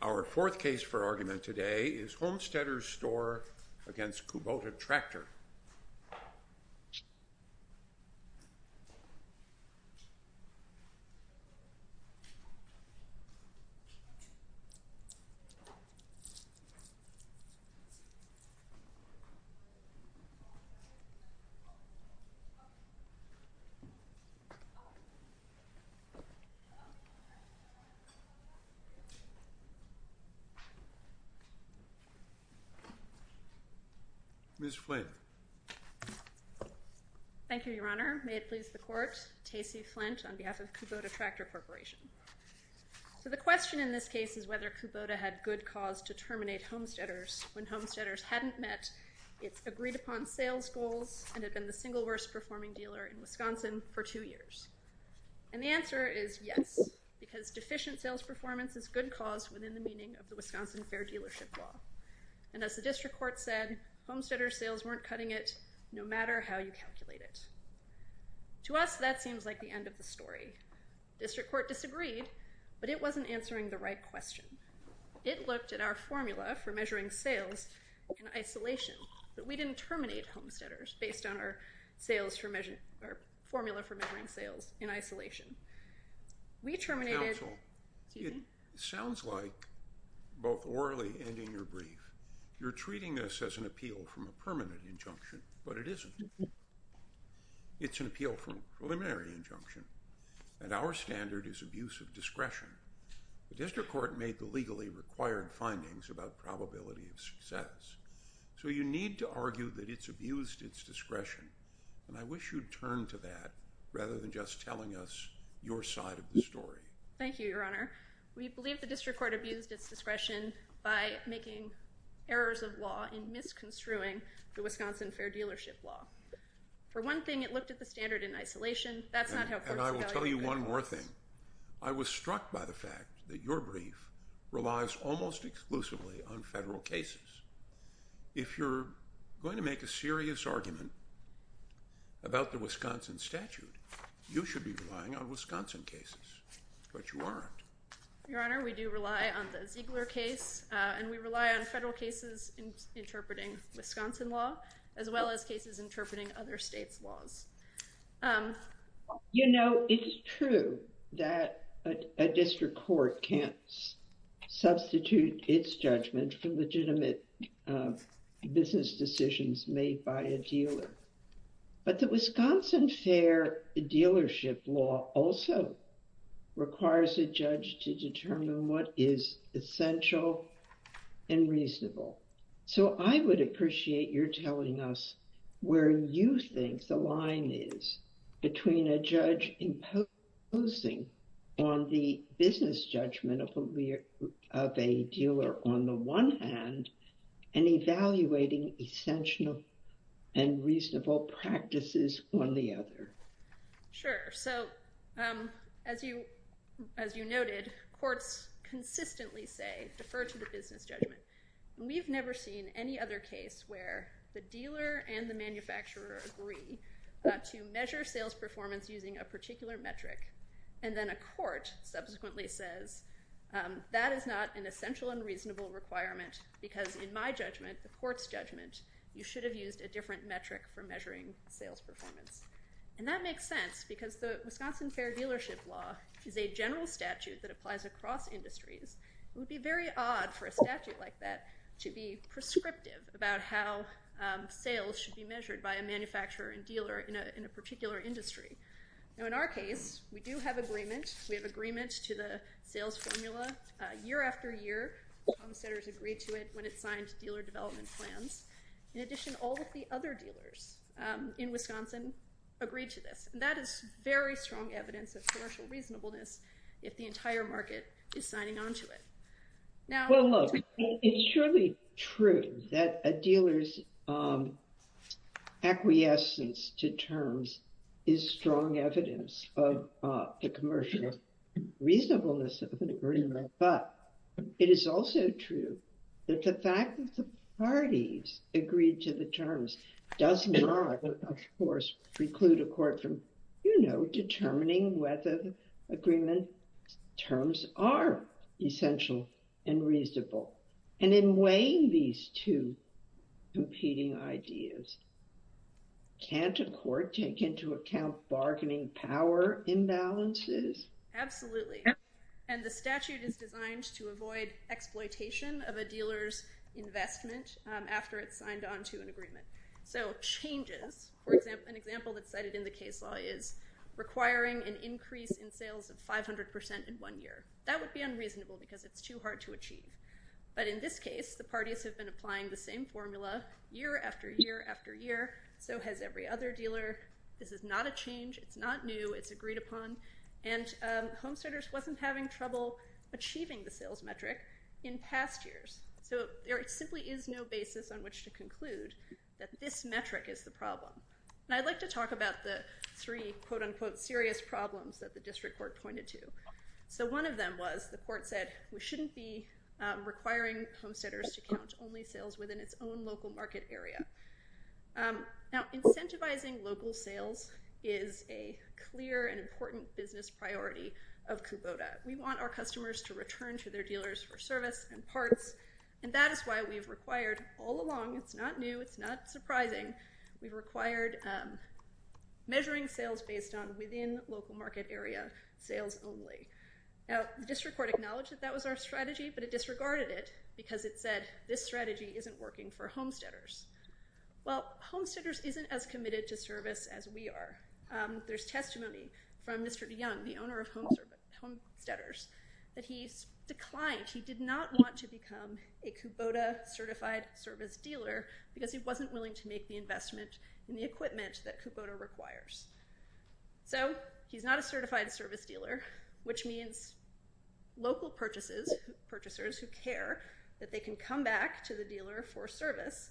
Our fourth case for argument today is Homesteader's Store v. Kubota Tractor. The question in this case is whether Kubota had good cause to terminate homesteaders when homesteaders hadn't met its agreed-upon sales goals and had been the single worst performing dealer in Wisconsin for two years. And the answer is yes, because deficient sales performance is good cause within the meaning of the Wisconsin Fair Dealership Law. And as the district court said, homesteader sales weren't cutting it no matter how you calculate it. To us, that seems like the end of the story. District court disagreed, but it wasn't answering the right question. It looked at our formula for measuring sales in isolation, but we didn't terminate homesteaders based on our formula for measuring sales in isolation. We terminated— Counsel, it sounds like, both orally and in your brief, you're treating this as an appeal from a permanent injunction, but it isn't. It's an appeal from a preliminary injunction, and our standard is abuse of discretion. The district court made the legally required findings about probability of success. So you need to argue that it's abused its discretion, and I wish you'd turn to that rather than just telling us your side of the story. Thank you, Your Honor. We believe the district court abused its discretion by making errors of law in misconstruing the Wisconsin Fair Dealership Law. For one thing, it looked at the standard in isolation. That's not how courts— And I will tell you one more thing. I was struck by the fact that your brief relies almost exclusively on federal cases. If you're going to make a serious argument about the Wisconsin statute, you should be relying on Wisconsin cases, but you aren't. Your Honor, we do rely on the Ziegler case, and we rely on federal cases interpreting Wisconsin law, as well as cases interpreting other states' laws. You know, it's true that a district court can't substitute its judgment for legitimate business decisions made by a dealer, but the Wisconsin Fair Dealership Law also requires a judge to determine what is essential and reasonable. So I would appreciate your telling us where you think the line is between a judge imposing on the business judgment of a dealer on the one hand and evaluating essential and reasonable practices on the other. Sure. So as you noted, courts consistently say, defer to the business judgment. We've never seen any other case where the dealer and the manufacturer agree to measure sales performance using a particular metric, and then a court subsequently says, that is not an essential and reasonable requirement, because in my judgment, the court's judgment, you should have used a different metric for measuring sales performance. And that makes sense, because the Wisconsin Fair Dealership Law is a general statute that applies across industries. It would be very odd for a statute like that to be prescriptive about how sales should be measured by a manufacturer and dealer in a particular industry. Now in our case, we do have agreement. We have agreement to the sales formula year after year. Tom Setters agreed to it when it signed dealer development plans. In addition, all of the other dealers in Wisconsin agreed to this. And that is very strong evidence of commercial reasonableness if the entire market is signing on to it. Well, look, it's surely true that a dealer's acquiescence to terms is strong evidence of the commercial reasonableness of an agreement. But it is also true that the fact that the parties agreed to the terms does not, of course, preclude a court from determining whether the agreement terms are essential and reasonable. And in weighing these two competing ideas, can't a court take into account bargaining power imbalances? Absolutely. And the statute is designed to avoid exploitation of a dealer's investment after it's signed on to an agreement. So changes, for example, an example that's cited in the case law is requiring an increase in sales of 500% in one year. That would be unreasonable, because it's too hard to achieve. But in this case, the parties have been applying the same formula year after year after year. So has every other dealer. This is not a change. It's not new. It's agreed upon. And Homesteaders wasn't having trouble achieving the sales metric in past years. So there simply is no basis on which to conclude that this metric is the problem. And I'd like to talk about the three, quote unquote, serious problems that the district court pointed to. So one of them was the court said we shouldn't be requiring Homesteaders to count only sales within its own local market area. Now, incentivizing local sales is a clear and important business priority of Kubota. We want our customers to return to their dealers for service and parts. And that is why we've required all along, it's not new, it's not surprising, we've required measuring sales based on within local market area sales only. Now, the district court acknowledged that that was our strategy, but it disregarded it because it said this strategy isn't working for Homesteaders. Well, Homesteaders isn't as committed to service as we are. There's testimony from Mr. Young, the owner of Homesteaders, that he declined. He did not want to become a Kubota certified service dealer because he wasn't willing to make the investment in the equipment that Kubota requires. So he's not a certified service dealer, which means local purchases, purchasers who care that they can come back to the dealer for service,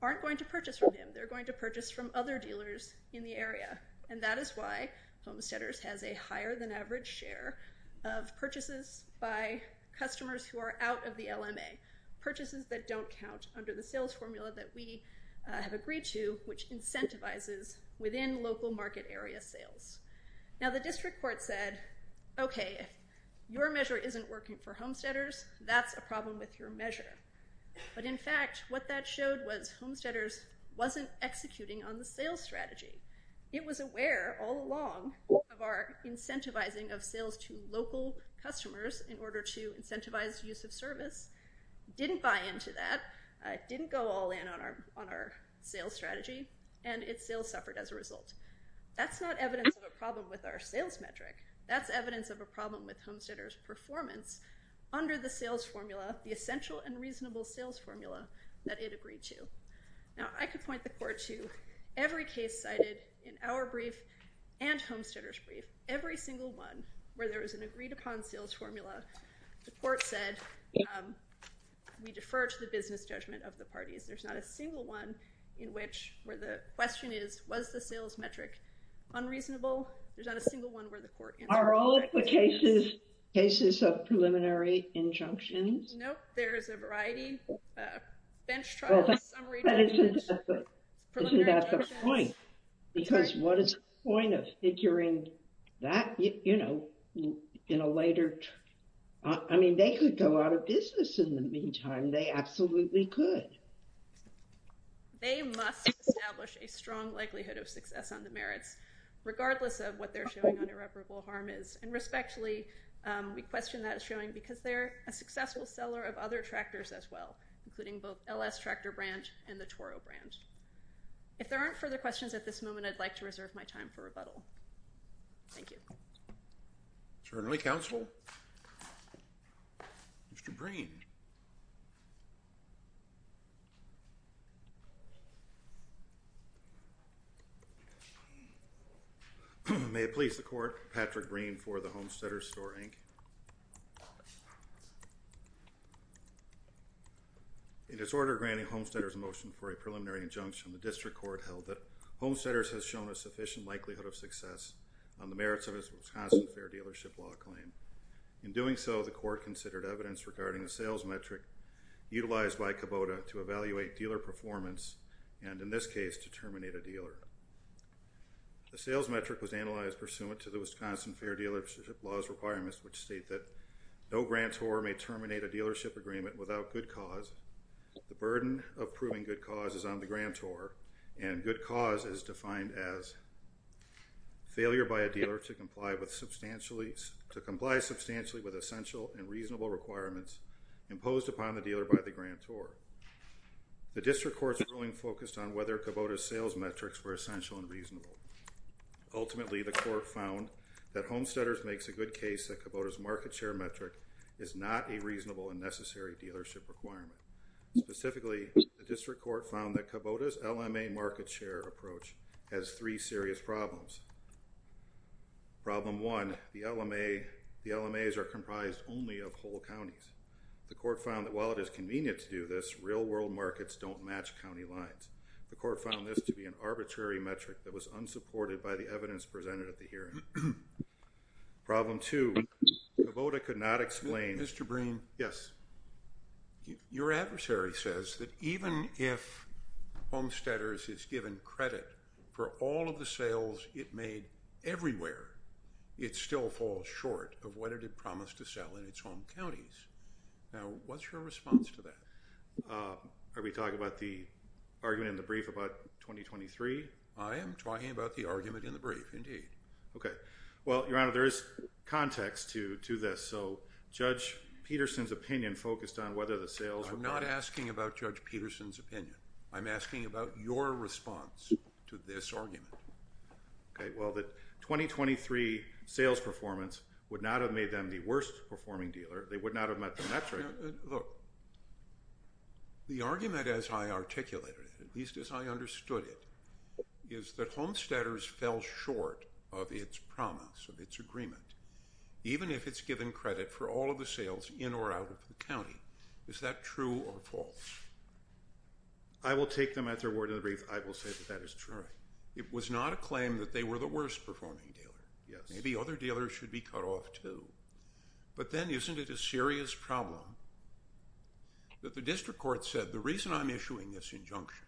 aren't going to purchase from him. They're going to purchase from other dealers in the area. And that is why Homesteaders has a higher than average share of purchases by customers who are out of the LMA. Purchases that don't count under the sales formula that we have agreed to, which incentivizes within local market area sales. Now, the district court said, okay, if your measure isn't working for Homesteaders, that's a problem with your measure. But in fact, what that showed was Homesteaders wasn't executing on the sales strategy. It was aware all along of our incentivizing of sales to local customers in order to incentivize use of service, didn't buy into that, didn't go all in on our sales strategy, and its sales suffered as a result. That's not evidence of a problem with our sales metric. That's evidence of a problem with Homesteaders' performance under the sales formula, the essential and reasonable sales formula that it agreed to. Now, I could point the court to every case cited in our brief and Homesteaders' brief, every single one where there was an agreed upon sales formula. The court said, we defer to the business judgment of the parties. There's not a single one in which where the question is, was the sales metric unreasonable? There's not a single one where the court answered that question. Are all of the cases cases of preliminary injunctions? Nope, there's a variety. Bench trials, summary judgments, preliminary injunctions. But isn't that the point? Because what is the point of figuring that, you know, in a later? I mean, they could go out of business in the meantime. They absolutely could. They must establish a strong likelihood of success on the merits, regardless of what they're showing on irreparable harm is. And respectfully, we question that showing because they're a successful seller of other tractors as well, including both L.S. Tractor Brand and the Toro Brand. If there aren't further questions at this moment, I'd like to reserve my time for rebuttal. Thank you. Certainly, counsel. Mr. Breen. May it please the court. Patrick Breen for the Homesteaders Store, Inc. In its order granting Homesteaders a motion for a preliminary injunction, the district court held that Homesteaders has shown a sufficient likelihood of success on the merits of its Wisconsin Fair Dealership Law claim. In doing so, the court considered evidence regarding the sales metric utilized by Kubota to evaluate dealer performance, and in this case, to terminate a dealer. The sales metric was analyzed pursuant to the Wisconsin Fair Dealership Law's requirements, which state that no grantor may terminate a dealership agreement without good cause. The burden of proving good cause is on the grantor, and good cause is defined as failure by a dealer to comply substantially with essential and reasonable requirements imposed upon the dealer by the grantor. The district court's ruling focused on whether Kubota's sales metrics were essential and reasonable. Ultimately, the court found that Homesteaders makes a good case that Kubota's market share metric is not a reasonable and necessary dealership requirement. Specifically, the district court found that Kubota's LMA market share approach has three serious problems. Problem one, the LMAs are comprised only of whole counties. The court found that while it is convenient to do this, real world markets don't match county lines. The court found this to be an arbitrary metric that was unsupported by the evidence presented at the hearing. Problem two, Kubota could not explain... Mr. Breen. Yes. Your adversary says that even if Homesteaders is given credit for all of the sales it made everywhere, it still falls short of what it had promised to sell in its home counties. Now, what's your response to that? Are we talking about the argument in the brief about 2023? I am talking about the argument in the brief, indeed. Okay. Well, Your Honor, there is context to this. So Judge Peterson's opinion focused on whether the sales... I'm not asking about Judge Peterson's opinion. I'm asking about your response to this argument. Okay. Well, the 2023 sales performance would not have made them the worst performing dealer. They would not have met the metric. Look, the argument as I articulated it, at least as I understood it, is that Homesteaders fell short of its promise, of its agreement. Even if it's given credit for all of the sales in or out of the county. Is that true or false? I will take them at their word in the brief. I will say that that is true. All right. It was not a claim that they were the worst performing dealer. Yes. Maybe other dealers should be cut off, too. But then isn't it a serious problem that the district court said the reason I'm issuing this injunction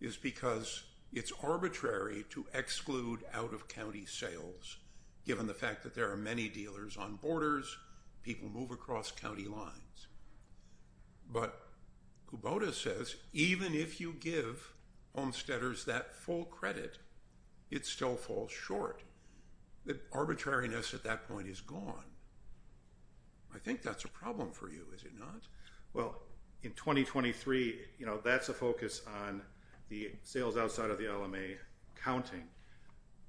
is because it's arbitrary to exclude out-of-county sales, given the fact that there are many dealers on borders, people move across county lines. But Kubota says even if you give Homesteaders that full credit, it still falls short. The arbitrariness at that point is gone. I think that's a problem for you, is it not? Well, in 2023, that's a focus on the sales outside of the LMA counting.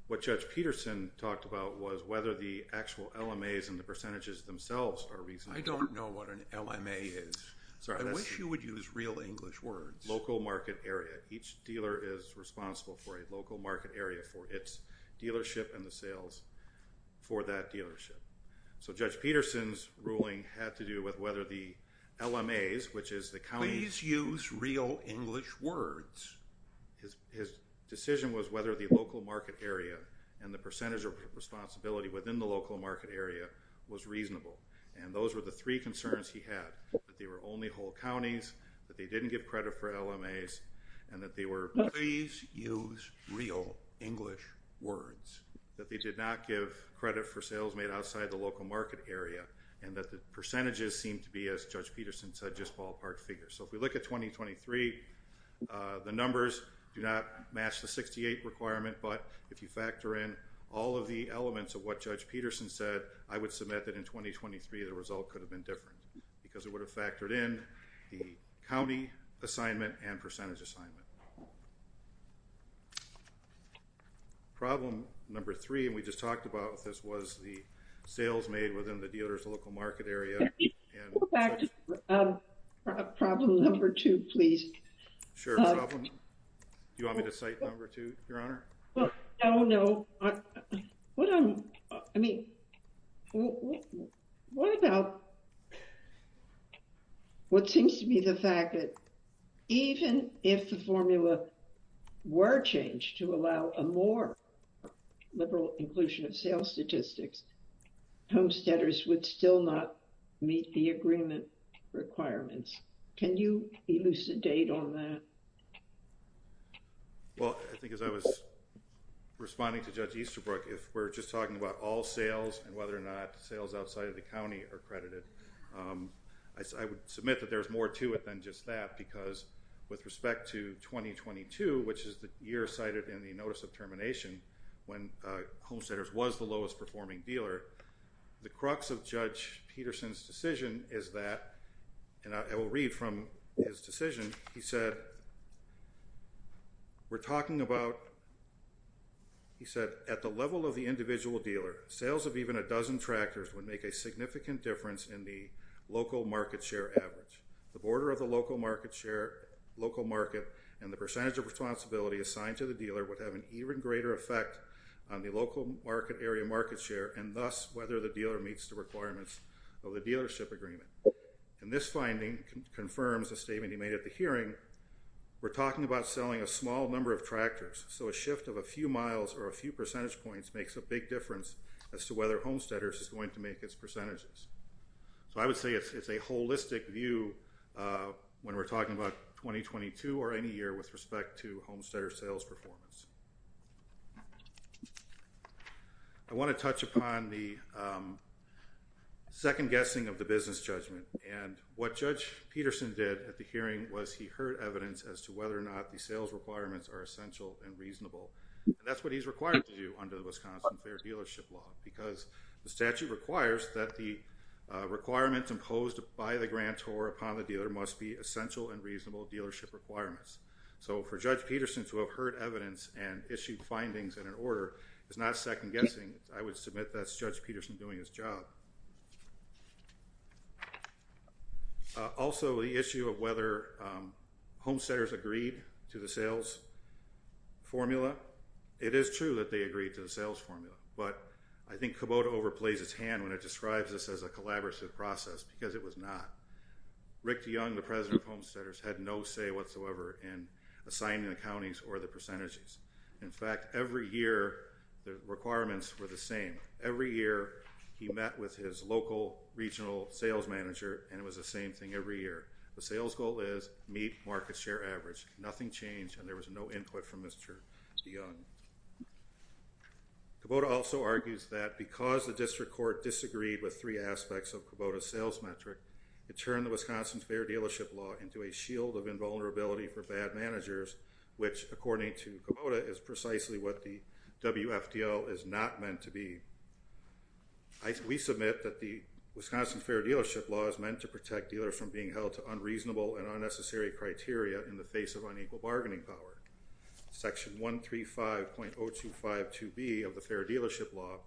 What Judge Peterson talked about was whether the actual LMAs and the percentages themselves are reasonable. I don't know what an LMA is. Sorry. I wish you would use real English words. Local market area. Each dealer is responsible for a local market area for its dealership and the sales for that dealership. So Judge Peterson's ruling had to do with whether the LMAs, which is the county. Please use real English words. His decision was whether the local market area and the percentage of responsibility within the local market area was reasonable. And those were the three concerns he had, that they were only whole counties, that they didn't give credit for LMAs, and that they were, please use real English words, that they did not give credit for sales made outside the local market area, and that the percentages seemed to be, as Judge Peterson said, just ballpark figures. So if we look at 2023, the numbers do not match the 68 requirement, but if you factor in all of the elements of what Judge Peterson said, I would submit that in 2023 the result could have been different, because it would have factored in the county assignment and percentage assignment. Problem number three, and we just talked about this, was the sales made within the dealer's local market area. Go back to problem number two, please. Sure, problem. Do you want me to cite number two, Your Honor? Oh, no. I mean, what about what seems to be the fact that even if the formula were changed to allow a more liberal inclusion of sales statistics, homesteaders would still not meet the agreement requirements. Can you elucidate on that? Well, I think as I was responding to Judge Easterbrook, if we're just talking about all sales and whether or not sales outside of the county are credited, I would submit that there's more to it than just that, because with respect to 2022, which is the year cited in the notice of termination when homesteaders was the lowest-performing dealer, the crux of Judge Peterson's decision is that, and I will read from his decision, he said, we're talking about, he said, at the level of the individual dealer, sales of even a dozen tractors would make a significant difference in the local market share average. The border of the local market share, local market, and the percentage of responsibility assigned to the dealer would have an even greater effect on the local market area market share, and thus whether the dealer meets the requirements of the dealership agreement. And this finding confirms a statement he made at the hearing. We're talking about selling a small number of tractors, so a shift of a few miles or a few percentage points makes a big difference as to whether homesteaders is going to make its percentages. So I would say it's a holistic view when we're talking about 2022 or any year with respect to homesteader sales performance. I want to touch upon the second guessing of the business judgment, and what Judge Peterson did at the hearing was he heard evidence as to whether or not the sales requirements are essential and reasonable. That's what he's required to do under the Wisconsin Fair Dealership Law, because the statute requires that the requirements imposed by the grantor upon the dealer must be essential and reasonable dealership requirements. So for Judge Peterson to have heard evidence and issued findings in an order is not second guessing. I would submit that's Judge Peterson doing his job. Also, the issue of whether homesteaders agreed to the sales formula, it is true that they agreed to the sales formula, but I think Kubota overplays his hand when it describes this as a collaborative process, because it was not. Rick DeYoung, the president of homesteaders, had no say whatsoever in assigning the counties or the percentages. In fact, every year the requirements were the same. Every year he met with his local regional sales manager, and it was the same thing every year. The sales goal is meet market share average. Nothing changed, and there was no input from Mr. DeYoung. Kubota also argues that because the district court disagreed with three aspects of Kubota's sales metric, it turned the Wisconsin Fair Dealership Law into a shield of invulnerability for bad managers, which, according to Kubota, is precisely what the WFDL is not meant to be. We submit that the Wisconsin Fair Dealership Law is meant to protect dealers from being held to unreasonable and unnecessary criteria in the face of unequal bargaining power. Section 135.0252B of the Fair Dealership Law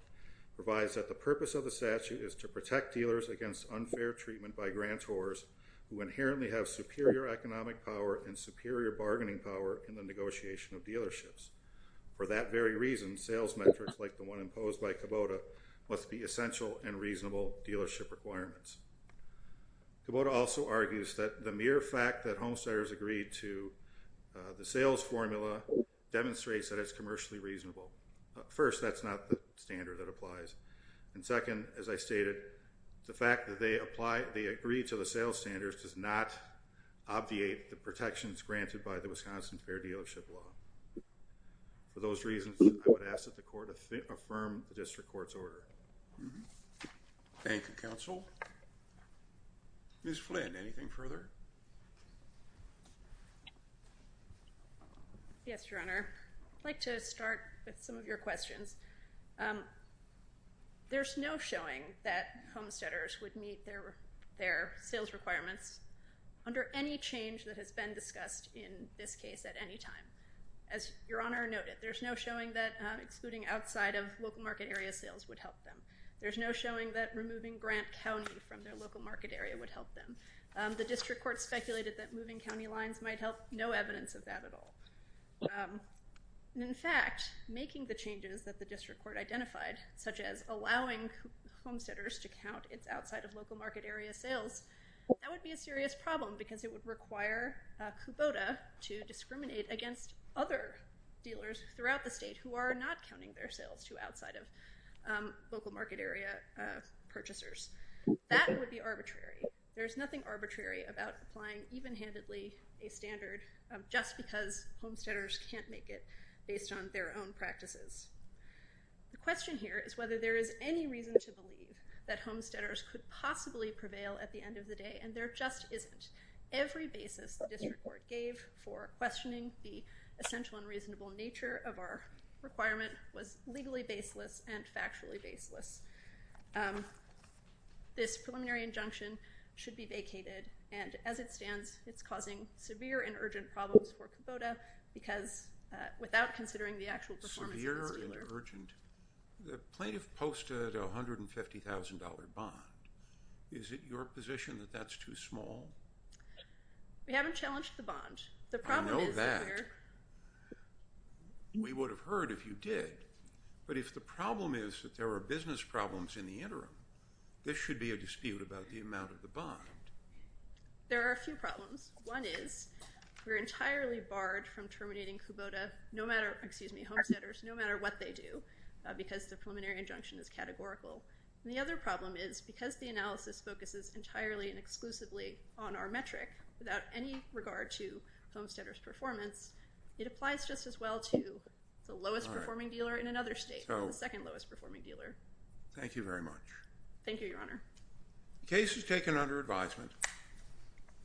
provides that the purpose of the statute is to protect dealers against unfair treatment by grantors who inherently have superior economic power and superior bargaining power in the negotiation of dealerships. For that very reason, sales metrics like the one imposed by Kubota must be essential and reasonable dealership requirements. Kubota also argues that the mere fact that homesteaders agreed to the sales formula demonstrates that it's commercially reasonable. First, that's not the standard that applies. And second, as I stated, the fact that they agreed to the sales standards does not obviate the protections granted by the Wisconsin Fair Dealership Law. For those reasons, I would ask that the court affirm the district court's order. Thank you, Counsel. Ms. Flynn, anything further? Yes, Your Honor. I'd like to start with some of your questions. There's no showing that homesteaders would meet their sales requirements under any change that has been discussed in this case at any time. As Your Honor noted, there's no showing that excluding outside-of-local-market area sales would help them. There's no showing that removing Grant County from their local market area would help them. The district court speculated that moving county lines might help. No evidence of that at all. In fact, making the changes that the district court identified, such as allowing homesteaders to count its outside-of-local-market area sales, that would be a serious problem because it would require Kubota to discriminate against other dealers throughout the state who are not counting their sales to outside-of-local-market area purchasers. That would be arbitrary. There's nothing arbitrary about applying even-handedly a standard just because homesteaders can't make it based on their own practices. The question here is whether there is any reason to believe that homesteaders could possibly prevail at the end of the day, and there just isn't. Every basis the district court gave for questioning the essential and reasonable nature of our requirement was legally baseless and factually baseless. This preliminary injunction should be vacated, and as it stands, it's causing severe and urgent problems for Kubota because, without considering the actual performance of this dealer... Severe and urgent? The plaintiff posted a $150,000 bond. Is it your position that that's too small? We haven't challenged the bond. The problem is that we're... I know that. We would have heard if you did. But if the problem is that there are business problems in the interim, this should be a dispute about the amount of the bond. There are a few problems. One is we're entirely barred from terminating Kubota, excuse me, homesteaders, no matter what they do, because the preliminary injunction is categorical. And the other problem is because the analysis focuses entirely and exclusively on our metric without any regard to homesteaders' performance, it applies just as well to the lowest-performing dealer in another state, the second-lowest-performing dealer. Thank you very much. Thank you, Your Honor. The case is taken under advisement.